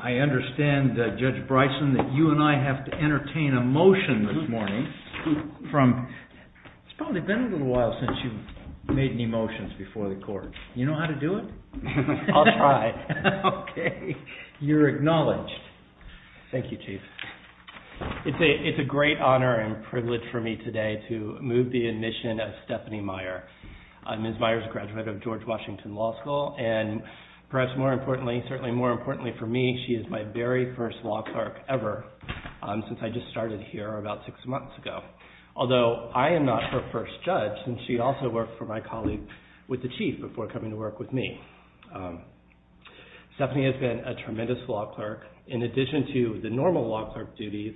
I understand Judge Bryson that you and I have to entertain a motion this morning from, it's probably been a little while since you've made any motions before the court. You know how to do it? I'll try. Okay, you're acknowledged. Thank you Chief. It's a great honor and privilege for me today to move the admission of Stephanie Meyer. Ms. Meyer is a graduate of George Washington Law School and perhaps more importantly, certainly more importantly for me, she is my very first law clerk ever since I just started here about six months ago. Although I am not her first judge and she also worked for my colleague with the Chief before coming to work with me. Stephanie has been a tremendous law clerk in addition to the normal law clerk duties,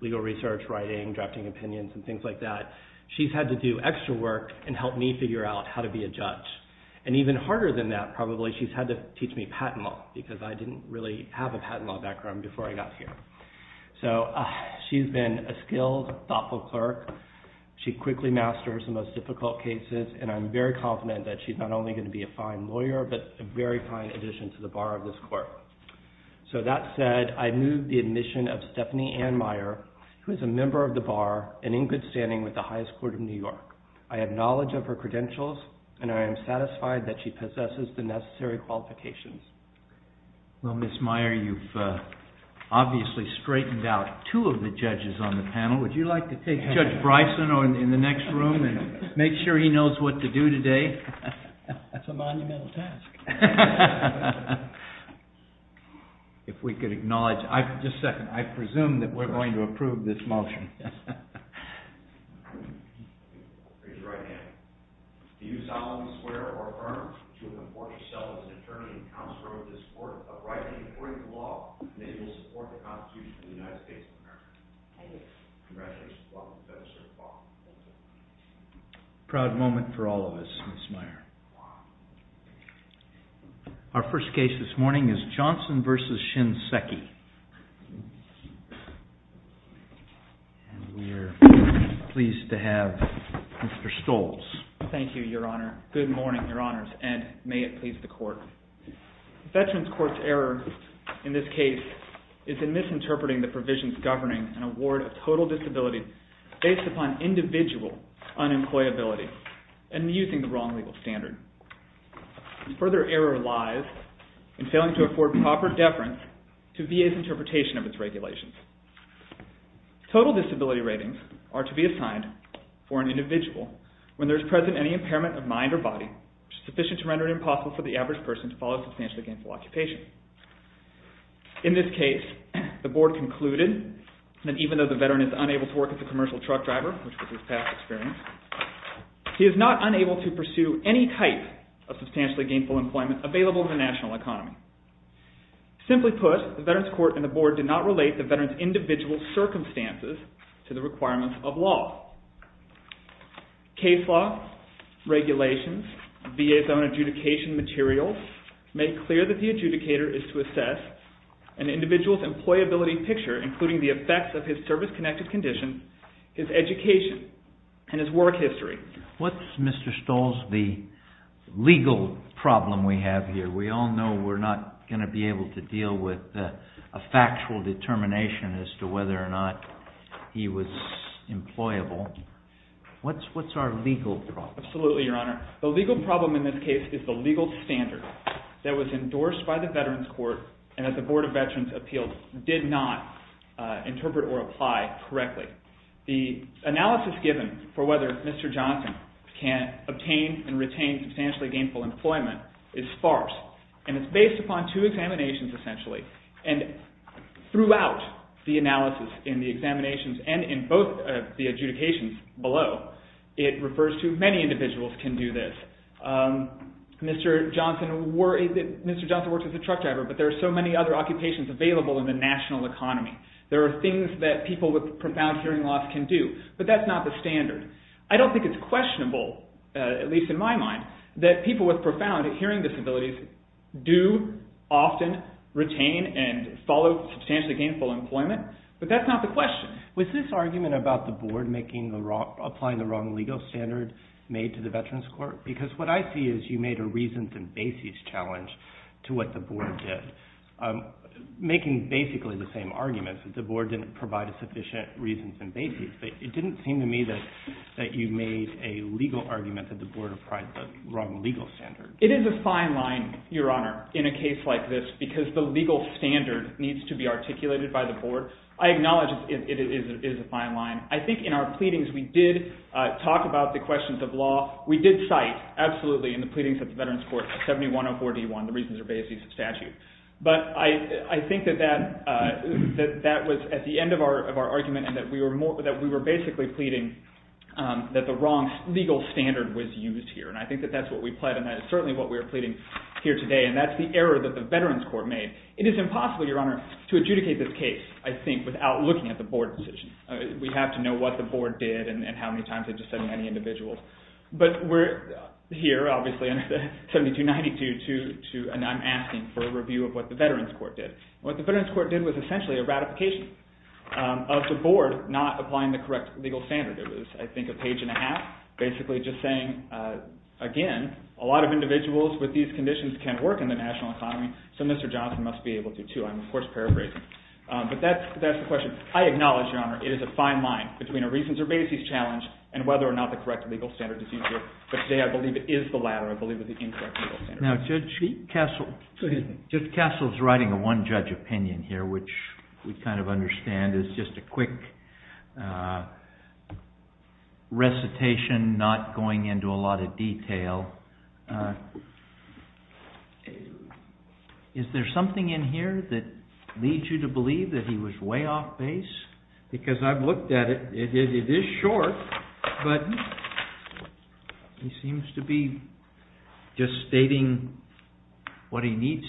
legal research, writing, drafting opinions, and things like that, she's had to do extra work and help me figure out how to be a teach me patent law because I didn't really have a patent law background before I got here. So she's been a skilled, thoughtful clerk. She quickly masters the most difficult cases and I'm very confident that she's not only going to be a fine lawyer but a very fine addition to the bar of this court. So that said, I move the admission of Stephanie Anne Meyer who is a member of the bar and in good standing with the highest court of New York. I have knowledge of her credentials and I am satisfied that she possesses the necessary qualifications. Well, Ms. Meyer, you've obviously straightened out two of the judges on the panel. Would you like to take Judge Bryson in the next room and make sure he knows what to do today? That's a monumental task. If we could acknowledge, just a second, I presume that we're going to approve this as an attorney and counselor of this court of right and according to law, they will support the Constitution of the United States of America. Thank you. Congratulations, welcome to the Federal Circuit of Law. Proud moment for all of us, Ms. Meyer. Our first case this morning is Johnson versus Shinseki. We're pleased to have Mr. Stoltz. Thank you, Your Honor. Good morning, Your Honors, and may it please the court. Veterans Court's error in this case is in misinterpreting the provisions governing an award of total disability based upon individual unemployability and using the wrong legal standard. Further error lies in failing to afford proper deference to VA's interpretation of its regulations. Total disability ratings are to be assigned for an individual when there's present any impairment of mind or body sufficient to render it impossible for the average person to follow a substantially gainful occupation. In this case, the board concluded that even though the veteran is unable to work as a commercial truck driver, which was his past experience, he is not unable to pursue any type of substantially gainful employment available in the national economy. Simply put, the Veterans Court and the board did not relate the regulations, VA's own adjudication materials make clear that the adjudicator is to assess an individual's employability picture, including the effects of his service-connected condition, his education, and his work history. What's Mr. Stoltz, the legal problem we have here? We all know we're not going to be able to deal with a factual determination as to whether or not he was employable. What's our legal problem? Absolutely, Your Honor. The legal problem in this case is the legal standard that was endorsed by the Veterans Court and that the Board of Veterans Appeals did not interpret or apply correctly. The analysis given for whether Mr. Johnson can obtain and retain substantially gainful employment is sparse, and it's based upon two examinations essentially, and throughout the analysis in the examinations and in both the adjudications below, it refers to many individuals can do this. Mr. Johnson works as a truck driver, but there are so many other occupations available in the national economy. There are things that people with profound hearing loss can do, but that's not the standard. I don't think it's questionable, at least in my mind, that people with profound hearing disabilities do often retain and follow substantially gainful employment, but that's not the question. Was this argument about the Board applying the wrong legal standard made to the Veterans Court? Because what I see is you made a reasons and basis challenge to what the Board did, making basically the same arguments that the Board didn't provide a sufficient reasons and basis, but it didn't seem to me that you made a legal argument that the Board applied the wrong legal standard. It is a fine line, Your Honor, in a case like this, because the legal standard needs to be articulated by the Board. I acknowledge it is a fine line. I think in our pleadings we did talk about the questions of law. We did cite absolutely in the pleadings of the Veterans Court 7104D1, the reasons and basis of statute, but I think that that was at the end of our argument and that we were basically pleading that the wrong legal standard was used here, and I think that that's what we pled, and that is certainly what we are pleading here today, and that's the error that the Veterans Court made. It is impossible, Your Honor, to adjudicate this case, I think, without looking at the Board's decision. We have to know what the Board did and how many times it dissented any individuals, but we're here, obviously, in 7292, and I'm asking for a review of what the Veterans Court did. What the Veterans Court did was essentially a ratification of the Board not applying the correct legal standard. It was, I think, a page and a half, basically just saying, again, a lot of individuals with these conditions can work in the national economy, so Mr. Johnson must be able to, too. I'm, of course, paraphrasing, but that's the question. I acknowledge, Your Honor, it is a fine line between a reasons or basis challenge and whether or not the correct legal standard is used here, but today I believe it is the latter. I believe it's the incorrect legal standard. Now, Judge Cassell's writing a one-judge opinion here, which we kind of understand is just a quick recitation, not going into a lot of detail. Is there something in here that leads you to believe that he was way off base? Because I've looked at it, it is short, but he seems to be just saying that he needs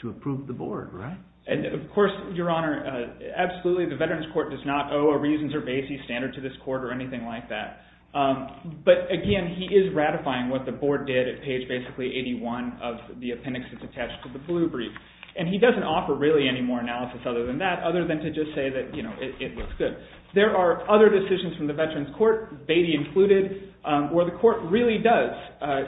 to approve the Board, right? And, of course, Your Honor, absolutely, the Veterans Court does not owe a reasons or basis standard to this Court or anything like that, but again, he is ratifying what the Board did at page basically 81 of the appendix that's attached to the blue brief, and he doesn't offer really any more analysis other than that, other than to just say that, you know, it looks good. There are other decisions from the Veterans Court, Beatty included, where the Court really does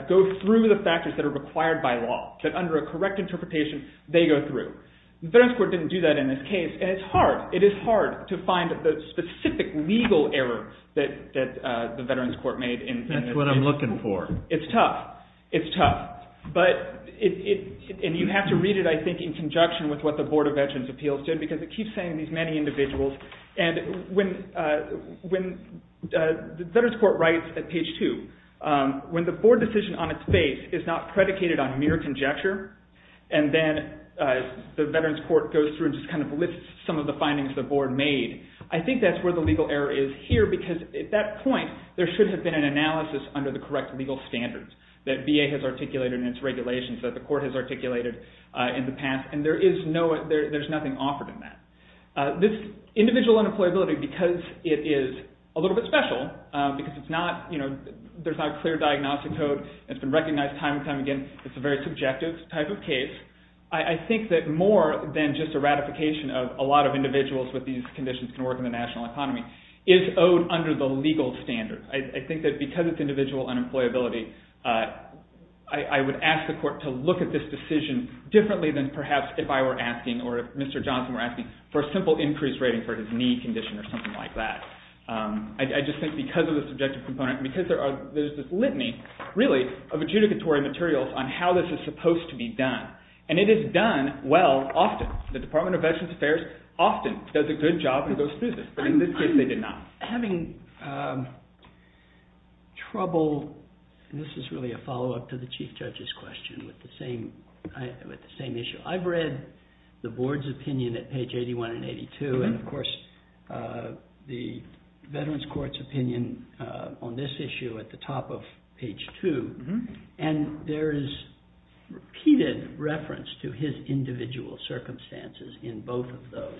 go through the factors that are in the correct interpretation, they go through. The Veterans Court didn't do that in this case, and it's hard, it is hard to find the specific legal error that the Veterans Court made. That's what I'm looking for. It's tough, it's tough, but it, and you have to read it, I think, in conjunction with what the Board of Veterans Appeals did, because it keeps saying these many individuals, and when the Veterans Court writes at page 2, when the Board decision on its base is not predicated on mere conjecture, and then the Veterans Court goes through and just kind of lists some of the findings the Board made, I think that's where the legal error is here, because at that point, there should have been an analysis under the correct legal standards that VA has articulated in its regulations, that the Court has articulated in the past, and there is no, there's nothing offered in that. This individual unemployability, because it is a little bit special, because it's not, you know, there's not a clear diagnostic code, it's been recognized time and time again, it's a very subjective type of case, I think that more than just a ratification of a lot of individuals with these conditions can work in the national economy, is owed under the legal standard. I think that because it's individual unemployability, I would ask the Court to look at this decision differently than perhaps if I were asking, or if Mr. Johnson were asking, for a simple increase rating for his knee condition or something like that. I just think because of the subjective component, because there are, there's this great deal of material on how this is supposed to be done, and it is done well often. The Department of Veterans Affairs often does a good job and goes through this, but in this case, they did not. Having trouble, and this is really a follow-up to the Chief Judge's question, with the same, with the same issue. I've read the Board's opinion at page 81 and 82, and of course, the Veterans Court's opinion on this issue at the top of page 2, and there is repeated reference to his individual circumstances in both of those.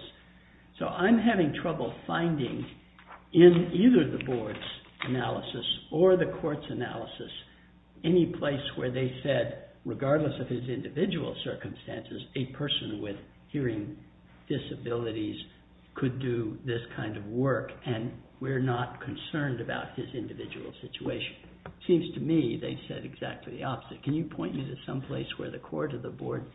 So I'm having trouble finding, in either the Board's analysis or the Court's analysis, any place where they said, regardless of his individual circumstances, a person with hearing disabilities could do this kind of work, and we're not concerned about his individual situation. It seems to me they said exactly the opposite. Can you point me to some place where the Court or the Board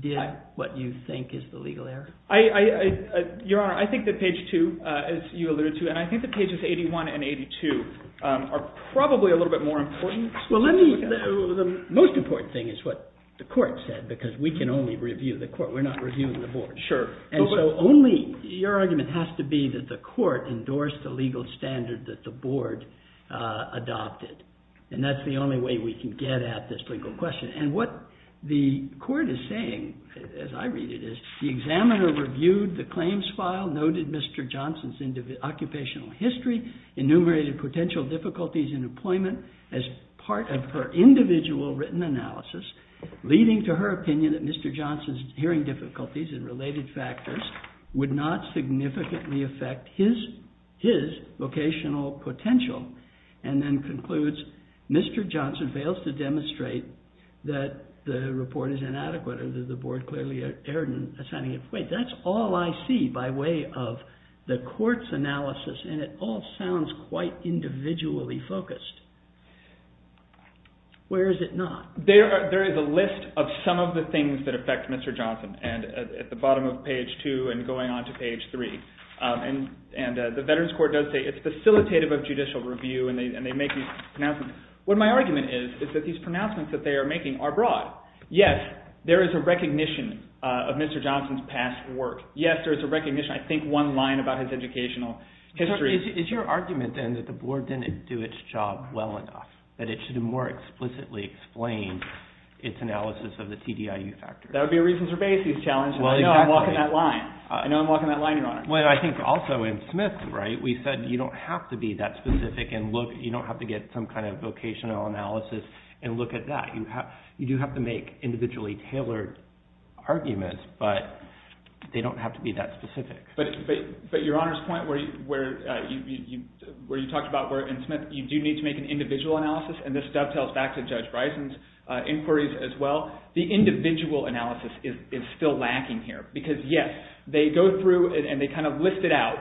did what you think is the legal error? I, I, Your Honor, I think that page 2, as you alluded to, and I think that pages 81 and 82 are probably a little bit more important. Well, let me, the most important thing is what the Court said, because we can only review the Court. We're not reviewing the Board. Sure. And so only, your argument has to be that the Court endorsed the legal standard that the Board adopted, and that's the only way we can get at this legal question. And what the Court is saying, as I read it, is the examiner reviewed the claims file, noted Mr. Johnson's individual, occupational history, enumerated potential difficulties in employment as part of her individual written analysis, leading to her opinion that Mr. Johnson's hearing difficulties and related factors would not significantly affect his, his vocational potential, and then concludes Mr. Johnson fails to demonstrate that the report is inadequate, or that the Board clearly erred in assigning it. Wait, that's all I see by way of the Court's analysis, and it all sounds quite individually focused. Where is it not? There are, there is a list of some of the things that affect Mr. Johnson, and at the bottom of page two, and going on to page three, and, and the Veterans Court does say it's facilitative of judicial review, and they, and they make these pronouncements. What my argument is, is that these pronouncements that they are making are broad. Yes, there is a recognition of Mr. Johnson's past work. Yes, there is a recognition, I think one line about his educational history. Is your argument, then, that the Board didn't do its job well enough, that it should have more explicitly explained its analysis of the TDIU factors? That would be a reasons-or-basis challenge, and I know I'm walking that line. I know I'm walking that line, Your Honor. Well, I think also in Smith, right, we said you don't have to be that specific, and look, you don't have to get some kind of vocational analysis, and look at that. You have, you do have to make individually tailored arguments, but they don't have to be that specific. But, but, but Your Honor's point where you, where you, where you talked about where in Smith, you do need to make an individual analysis, and this dovetails back to Judge Bryson's inquiries as well. The individual analysis is, is still lacking here, because, yes, they go through it, and they kind of list it out,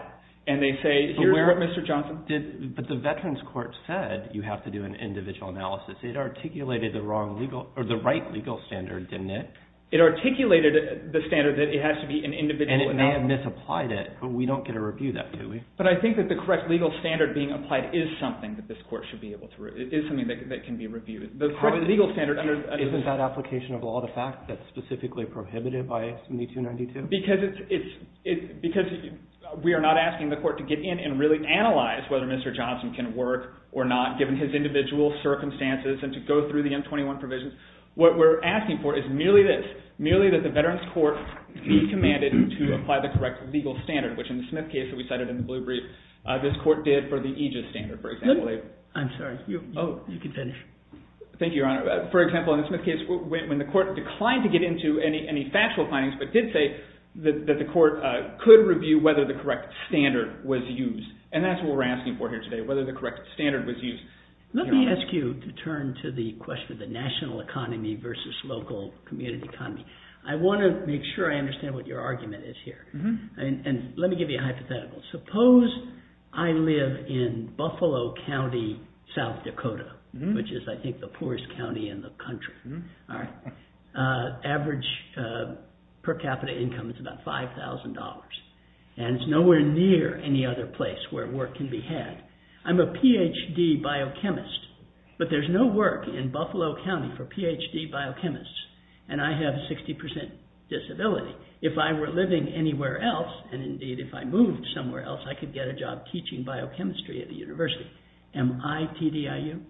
and they say, here's what Mr. Johnson did. But the Veterans Court said you have to do an individual analysis. It articulated the wrong legal, or the right legal standard, didn't it? It articulated the standard that it has to be an individual. And it may have misapplied it, but we don't get a review that, do we? But I think that the correct legal standard being applied is something that this Court should be able to, it is something that can be reviewed. The correct legal standard under... Isn't that application of law the fact that's specifically prohibited by 7292? Because it's, it's, because we are not asking the Court to get in and really analyze whether Mr. Johnson can work or not, given his individual circumstances, and to go through the M21 provisions. What we're asking for is merely this, merely that the Veterans Court be commanded to apply the correct legal standard, which in the Smith case that we cited in the blue brief, this Court did for the Aegis standard, for example. I'm sorry. Oh, you can finish. Thank you, Your Honor. For example, in the Smith case, when the Court declined to get into any, any factual findings, but did say that the Court could review whether the correct standard was used. And that's what we're asking for here today, whether the correct standard was used. Let me ask you to turn to the question of the national economy versus local community economy. I want to make sure I understand what your argument is here. And let me give you a hypothetical. Suppose I live in Buffalo County, South Dakota, which is, I think, the poorest county in the country. All right. Average per capita income is about $5,000, and it's nowhere near any other place where work can be had. I'm a PhD biochemist, but there's no work in Buffalo County for PhD biochemists, and I have a 60% disability. If I were living anywhere else, and indeed if I moved somewhere else, I could get a job teaching biochemistry at the University. Am I TDIU?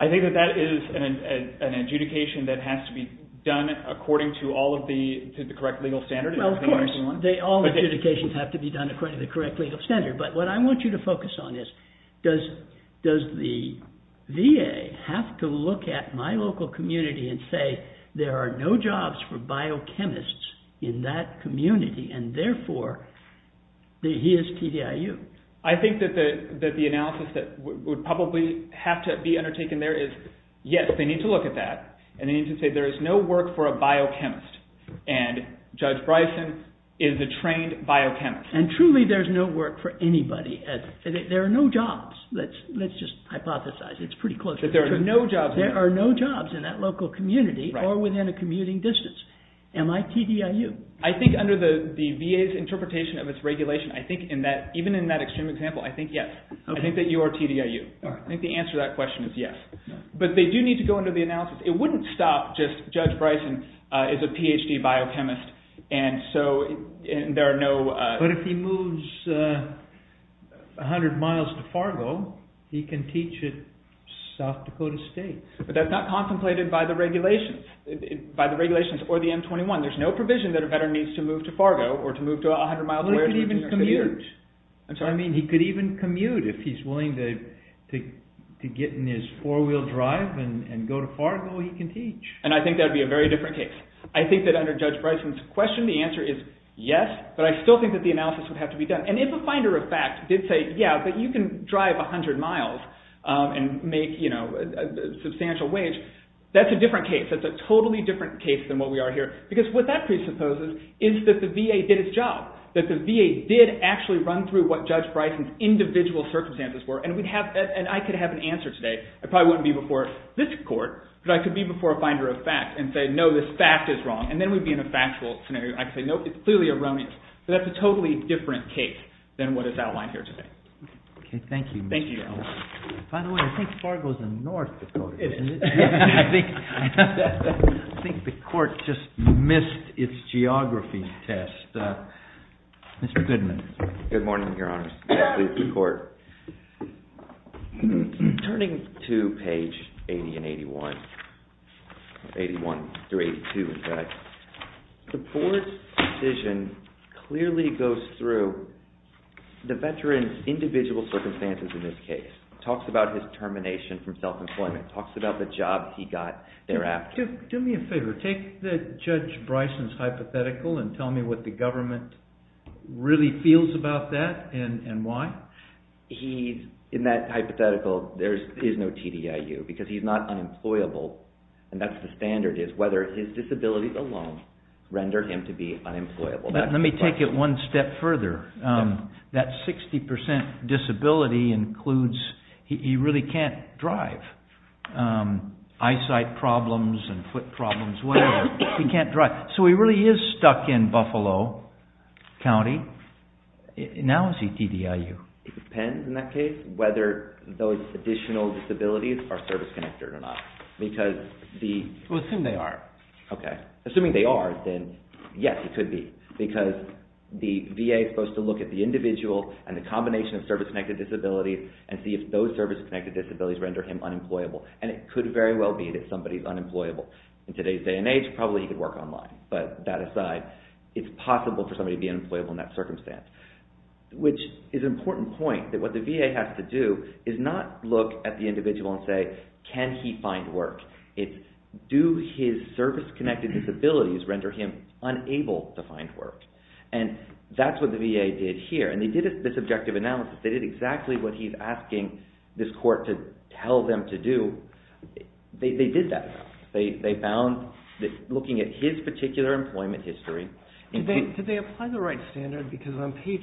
I think that that is an adjudication that has to be done according to all of the, to the correct legal standard. Well, of course, all adjudications have to be done according to the correct legal standard, but what I want you to focus on is, does, does the VA have to look at my local community and say, there are no jobs for biochemists in that community, and therefore, he is TDIU? I think that the, that the analysis that would probably have to be undertaken there is, yes, they need to look at that, and they need to say there is no work for a biochemist, and Judge Bryson is a trained biochemist. And truly there's no work for anybody. There are no jobs. Let's, let's just hypothesize. It's pretty close. There are no jobs. There are no jobs in that local community or within a commuting distance. Am I TDIU? I think under the, the VA's interpretation of its regulation, I think in that, even in that extreme example, I think yes. I think that you are TDIU. I think the answer to that question is yes. But they do need to go into the analysis. It wouldn't stop just, Judge Bryson is a PhD biochemist, and so there are no... But if he moves a hundred miles to Fargo, he can teach at South Dakota State. But that's not contemplated by the regulations, by the regulations or the M21. There's no provision that a veteran needs to move to Fargo or to move to a hundred miles away... He could even commute. I mean, he could even commute if he's willing to get in his four-wheel drive and go to Fargo, he can teach. And I think that'd be a very different case. I think that under Judge Bryson's question, the answer is yes, but I still think that the analysis would have to be done. And if a finder of fact did say, yeah, but you can drive a hundred miles and make, you know, a substantial wage, that's a different case. That's a totally different case than what we are here. Because what that presupposes is that the VA did its job. That the VA did actually run through what Judge Bryson's individual circumstances were, and we'd have, and I could have an answer today. I probably wouldn't be before this court, but I could be before a finder of fact and say, no, this fact is wrong. And then we'd be in a factual scenario. I could say, nope, it's clearly erroneous. So that's a totally different case than what is outlined here today. Okay. Thank you. Thank you. By the way, I think Fargo's in North Dakota. I think the court just missed its geography test. Mr. Goodman. Good morning, Your Honor. The board's decision clearly goes through the veteran's individual circumstances in this case. Talks about his termination from self-employment. Talks about the job he got thereafter. Do me a favor. Take the Judge Bryson's hypothetical and tell me what the government really feels about that and why. In that hypothetical, there is no TDIU because he's not whether his disabilities alone rendered him to be unemployable. Let me take it one step further. That 60% disability includes, he really can't drive. Eyesight problems and foot problems, whatever. He can't drive. So he really is stuck in Buffalo County. Now is he TDIU? It depends, in that case, whether those additional disabilities are service-connected or not. Because the... Assuming they are, then yes, it could be. Because the VA is supposed to look at the individual and the combination of service-connected disabilities and see if those service-connected disabilities render him unemployable. And it could very well be that somebody's unemployable. In today's day and age, probably he could work online. But that aside, it's possible for somebody to be unemployable in that circumstance. Which is an important point that what the VA has to do is not look at the individual and say, can he find work? It's do his service-connected disabilities render him unable to find work? And that's what the VA did here. And they did this objective analysis. They did exactly what he's asking this court to tell them to do. They did that. They found that looking at his particular employment history... Did they apply the right standard? Because on page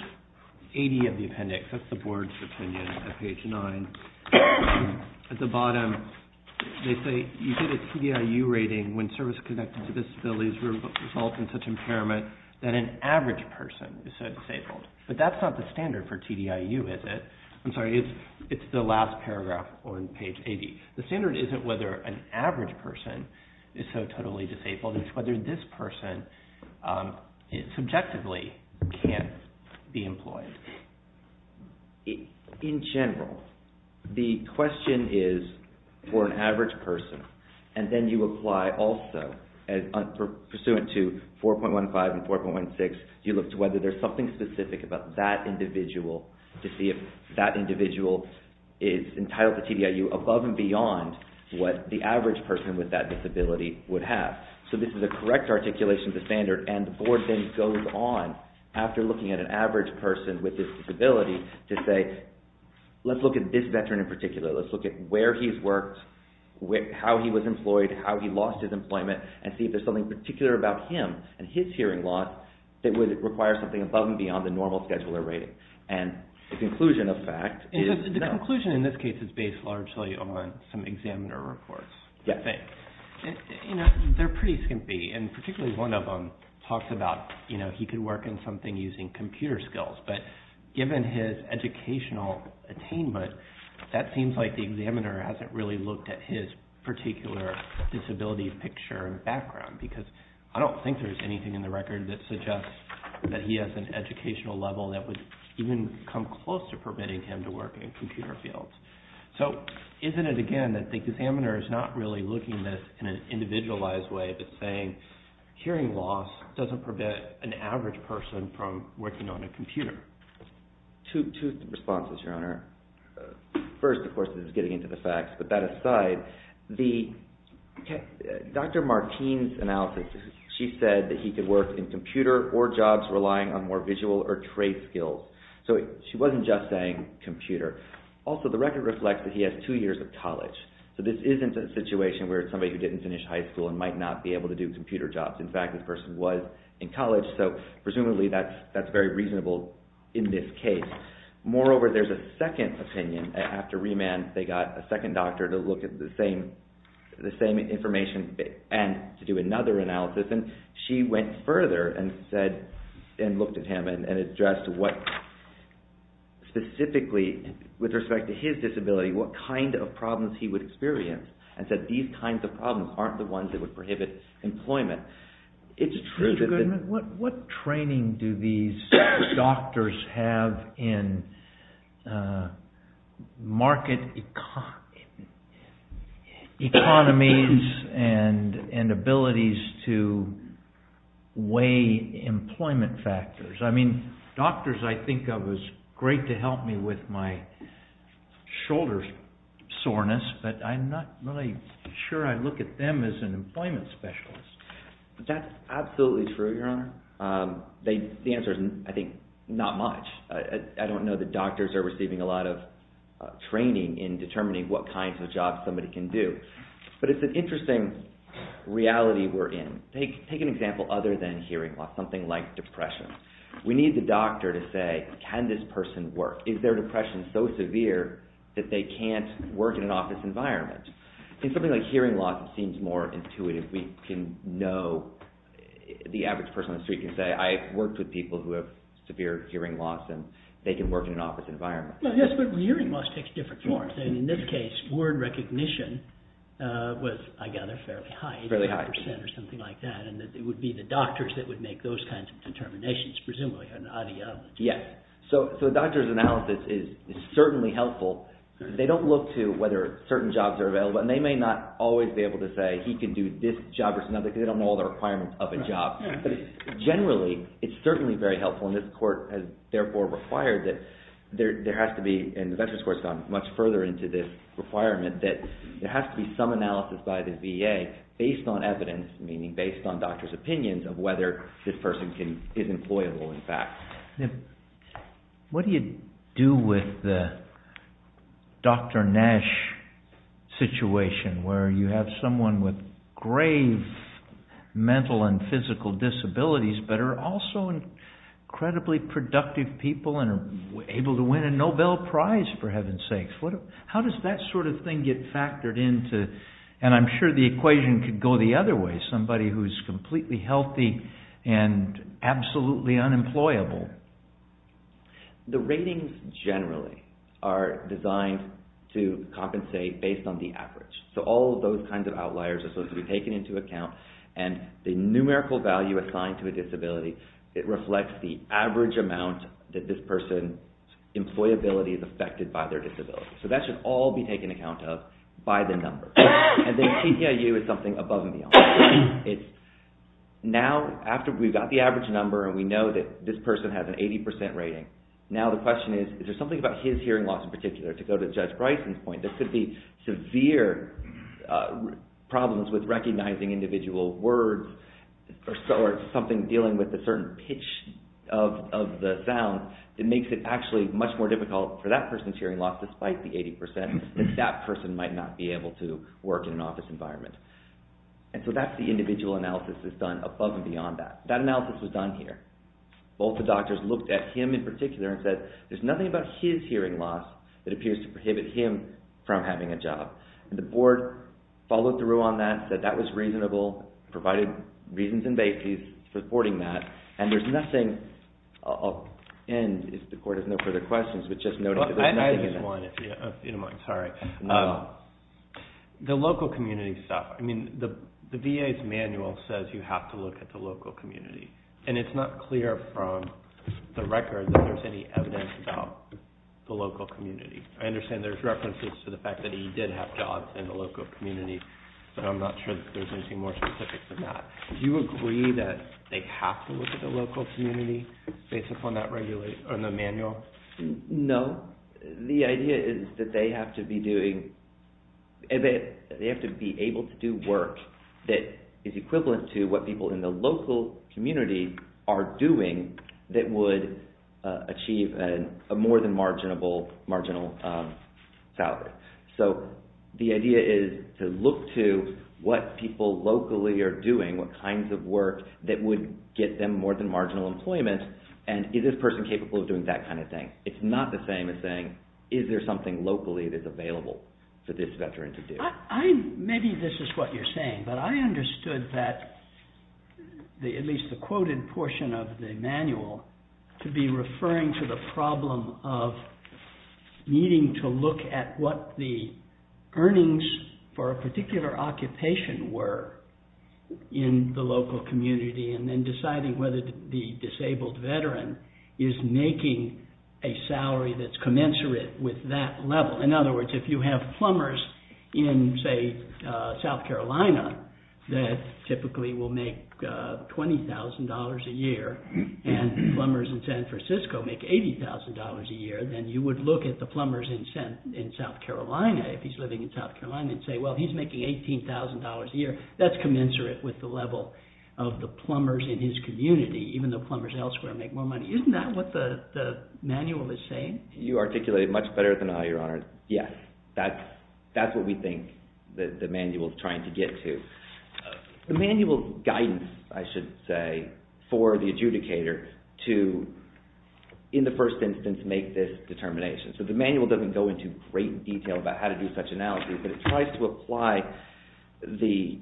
80 of the appendix, that's the board's opinion at page 9, at the bottom, they say you get a TDIU rating when service-connected disabilities result in such impairment that an average person is so disabled. But that's not the standard for TDIU, is it? I'm sorry, it's the last paragraph on page 80. The standard isn't whether an average person is so totally disabled. It's whether this person subjectively can't be employed. In general, the question is for an average person, and then you apply also, pursuant to 4.15 and 4.16, you look to whether there's something specific about that individual to see if that individual is entitled to TDIU above and beyond what the average person with that disability would have. So this is a correct articulation of the standard, and the board then goes on, after looking at an average person with this disability, to say, let's look at this veteran in particular. Let's look at where he's worked, how he was employed, how he lost his employment, and see if there's something particular about him and his hearing loss that would require something above and beyond the normal scheduler rating. And the conclusion, in this case, is based largely on some examiner reports. They're pretty skimpy, and particularly one of them talks about, you know, he could work in something using computer skills, but given his educational attainment, that seems like the examiner hasn't really looked at his particular disability picture and background, because I don't think there's anything in the record that suggests that he has an educational level that would even come close to permitting him to work in computer fields. So isn't it, again, that the examiner is not really looking at this in an individualized way, but saying, hearing loss doesn't prevent an average person from working on a computer? Two responses, Your Honor. First, of course, is getting into the facts, but that aside, Dr. Martine's analysis, she said that he could work in computer or other jobs relying on more visual or trait skills. So she wasn't just saying computer. Also, the record reflects that he has two years of college. So this isn't a situation where it's somebody who didn't finish high school and might not be able to do computer jobs. In fact, this person was in college, so presumably that's very reasonable in this case. Moreover, there's a second opinion. After remand, they got a second doctor to look at the same information and to do the analysis, and looked at him and addressed what specifically, with respect to his disability, what kind of problems he would experience, and said these kinds of problems aren't the ones that would prohibit employment. It's true that... What training do these doctors have in market economies and abilities to weigh employment factors? I mean, doctors I think of as great to help me with my shoulder soreness, but I'm not really sure I look at them as an employment specialist. That's absolutely true, Your Honor. The answer is, I think, not much. I don't know that doctors are receiving a lot of training in determining what kinds of jobs somebody can do, but it's an interesting reality we're in. Take an example other than hearing loss, something like depression. We need the doctor to say, can this person work? Is their depression so severe that they can't work in an office environment? In something like hearing loss, it seems more intuitive. We can know, the average person on the street can say, I've worked with people who have severe hearing loss, and they can work in an office environment. Yes, but hearing loss takes different forms. In this case, word would be the doctors that would make those kinds of determinations, presumably. Yes, so doctors' analysis is certainly helpful. They don't look to whether certain jobs are available, and they may not always be able to say, he can do this job or another, because they don't know all the requirements of a job. Generally, it's certainly very helpful, and this Court has therefore required that there has to be, and the Veterans Court has gone much further into this requirement, that there has to be some analysis by the VA based on evidence, meaning based on doctors' opinions, of whether this person is employable, in fact. What do you do with the Dr. Nash situation, where you have someone with grave mental and physical disabilities, but are also incredibly productive people, and are able to win a Nobel Prize, for heaven's sakes. How does that sort of thing get factored into, and I'm sure the equation could go the other way, somebody who's completely healthy and absolutely unemployable. The ratings, generally, are designed to compensate based on the average. So all those kinds of outliers are supposed to be taken into account, and the numerical value assigned to a disability, it reflects the average amount that this person's employability is affected by their disability. So that should all be taken account of by the attorney general. Now, after we've got the average number, and we know that this person has an 80% rating, now the question is, is there something about his hearing loss in particular? To go to Judge Bryson's point, there could be severe problems with recognizing individual words, or something dealing with a certain pitch of the sound, that makes it actually much more difficult for that person's hearing loss, despite the 80%, that that person might not be able to work in an office environment. And so that's the individual analysis that's done above and beyond that. That analysis was done here. Both the doctors looked at him in particular and said, there's nothing about his hearing loss that appears to prohibit him from having a job. And the board followed through on that, said that was reasonable, provided reasons and basis for supporting that, and there's nothing, I'll end if the court has no further questions, but just local community stuff. I mean, the VA's manual says you have to look at the local community, and it's not clear from the record that there's any evidence about the local community. I understand there's references to the fact that he did have jobs in the local community, but I'm not sure that there's anything more specific than that. Do you agree that they have to look at the local community, based upon that regulation, on the manual? No. The idea is that they have to be doing, they have to be able to do work that is equivalent to what people in the local community are doing that would achieve a more than marginal salary. So the idea is to look to what people locally are doing, what kinds of work that would get them more than It's not the same as saying, is there something locally that's available for this veteran to do? Maybe this is what you're saying, but I understood that, at least the quoted portion of the manual, to be referring to the problem of needing to look at what the earnings for a particular occupation were in the local community, and then deciding whether the disabled veteran is making a salary that's commensurate with that level. In other words, if you have plumbers in, say, South Carolina, that typically will make $20,000 a year, and plumbers in San Francisco make $80,000 a year, then you would look at the plumbers in South Carolina, if he's living in South Carolina, and say, well, he's making $18,000 a year. That's commensurate with the level of the plumbers in his community, even though plumbers elsewhere make more money. Isn't that what the manual is saying? You articulate it much better than I, Your Honor. Yes, that's what we think that the manual is trying to get to. The manual guidance, I should say, for the adjudicator to, in the first instance, make this determination. So the manual doesn't go into great detail about how to do such analysis, but it tries to apply the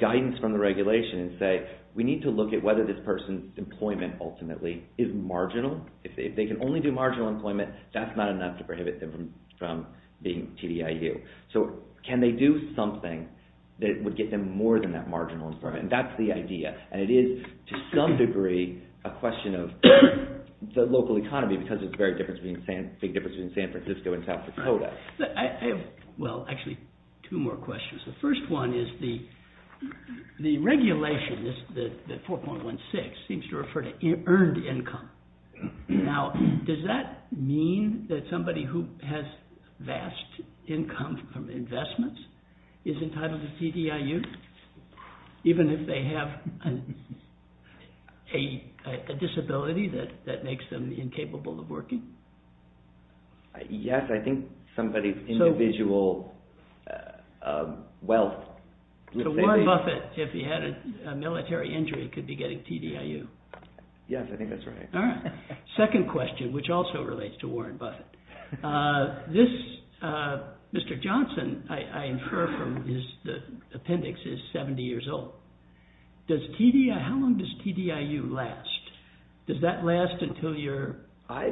guidance from the regulation and say, we need to look at whether this person's employment, ultimately, is marginal. If they can only do marginal employment, that's not enough to prohibit them from being TDIU. So can they do something that would get them more than that marginal employment? And that's the idea. And it is, to some degree, a question of the local economy, because there's a big difference between San Francisco and South Dakota. Well, actually, two more questions. The first is about income. Now, does that mean that somebody who has vast income from investments is entitled to TDIU, even if they have a disability that makes them incapable of working? Yes, I think somebody's individual wealth. So Warren Buffett, if he had a military injury, could be getting TDIU. Yes, I think that's right. All right. Second question, which also relates to Warren Buffett. This, Mr. Johnson, I infer from his appendix, is 70 years old. Does TDIU, how long does TDIU last? Does that last until you're dead? I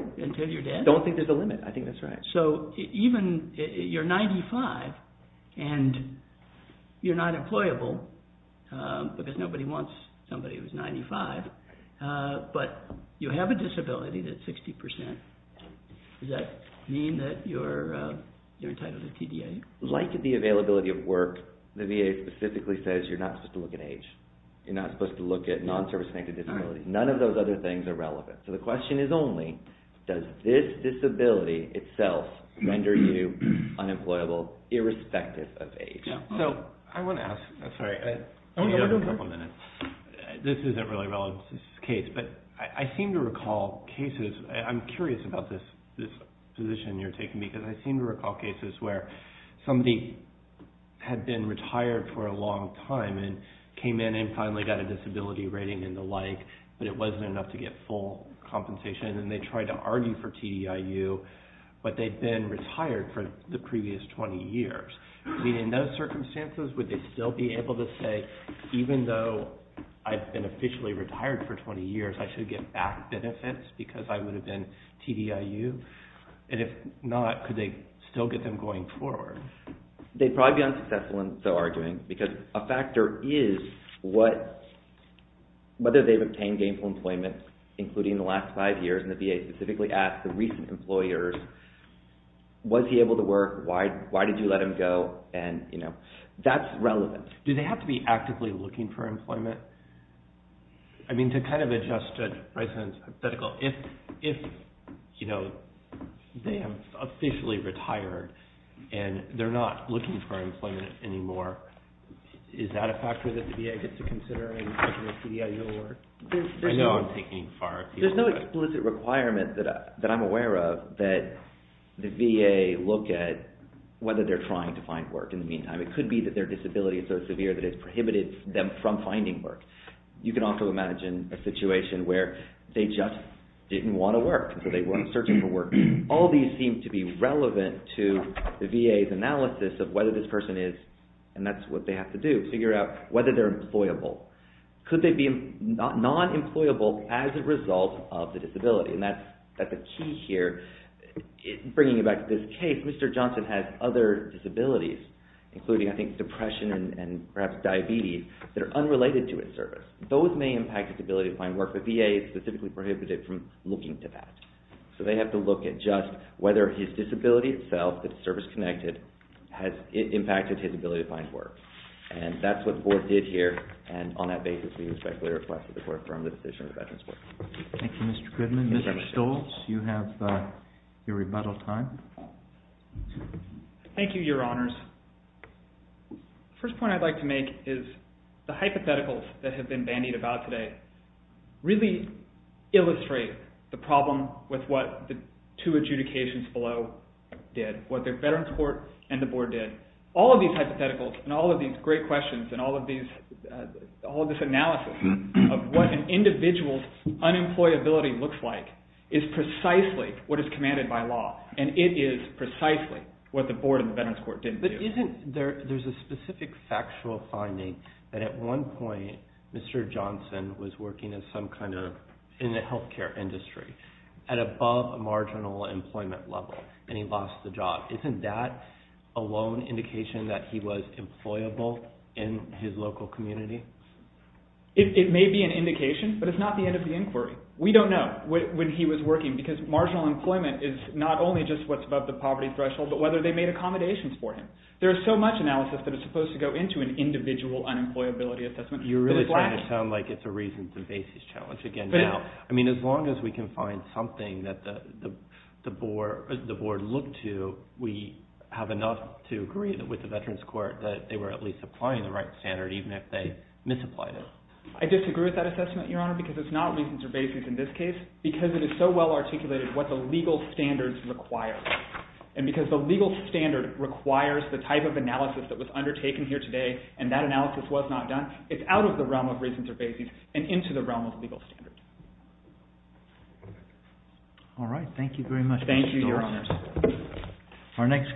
don't think there's a limit. I think that's right. So even, you're 95, and you're not disabled, you have a disability that's 60%. Does that mean that you're entitled to TDIU? Like the availability of work, the VA specifically says you're not supposed to look at age. You're not supposed to look at non-service-connected disability. None of those other things are relevant. So the question is only, does this disability itself render you unemployable, irrespective of age? So, I want to ask, sorry, this isn't really relevant to this case, but I seem to recall cases, I'm curious about this position you're taking, because I seem to recall cases where somebody had been retired for a long time and came in and finally got a disability rating and the like, but it wasn't enough to get full compensation, and they tried to argue for TDIU, but they'd been retired for the previous 20 years. In those circumstances, would they still be able to say, even though I've been officially retired for 20 years, I should get back benefits because I would have been TDIU? And if not, could they still get them going forward? They'd probably be unsuccessful in so arguing, because a factor is what, whether they've obtained gainful employment, including the last five years, and the VA specifically asked the recent employers, was he able to work? Why did you let him go? And, you know, that's relevant. Do they have to be hypothetical? If, you know, they have officially retired and they're not looking for employment anymore, is that a factor that the VA gets to consider in making a TDIU award? There's no explicit requirement that I'm aware of that the VA look at whether they're trying to find work in the meantime. It could be that their disability is so severe that it's prohibited them from finding work. You can also imagine a situation where they just didn't want to work, so they weren't searching for work. All these seem to be relevant to the VA's analysis of whether this person is, and that's what they have to do, figure out whether they're employable. Could they be non-employable as a result of the disability? And that's a key here. In bringing it back to this case, Mr. Johnson has other disabilities, including, I think, depression and perhaps a disability related to his service. Those may impact his ability to find work, but VA specifically prohibits it from looking to that. So they have to look at just whether his disability itself, if it's service-connected, has impacted his ability to find work. And that's what the board did here, and on that basis, we respectfully request that the board affirm the decision of the Veterans' Board. Thank you, Mr. Goodman. Mr. Stoltz, you have your rebuttal time. Thank you, Your Honors. The first point I'd like to make is the hypotheticals that have been bandied about today really illustrate the problem with what the two adjudications below did, what the Veterans' Court and the board did. All of these hypotheticals and all of these great questions and all of these, all of this analysis of what an individual's unemployability looks like is precisely what is commanded by law, and it is precisely what the board and the Veterans' Court didn't do. But isn't there, there's a specific factual finding that at one point, Mr. Johnson was working in some kind of, in the health care industry, at above a marginal employment level, and he lost the job. Isn't that a lone indication that he was employable in his local community? It may be an indication, but it's not the end of the inquiry. We don't know when he was working, because marginal employment is not only just what's above the poverty threshold, but whether they made accommodations for him. There's so much analysis that is supposed to go into an individual unemployability assessment. You're really trying to sound like it's a reasons and basis challenge again now. I mean, as long as we can find something that the board looked to, we have enough to agree with the Veterans' Court that they were at least applying the right standard, even if they misapplied it. I disagree with that assessment, Your Honor, because it's not reasons or basis in this case, because it is so well articulated what the legal standards require, and because the legal standard requires the type of analysis that was undertaken here today, and that analysis was not done, it's out of the realm of reasons or basis and into the realm of legal standard. All right. Thank you very much, Mr. Johnson. Thank you, Your Honor.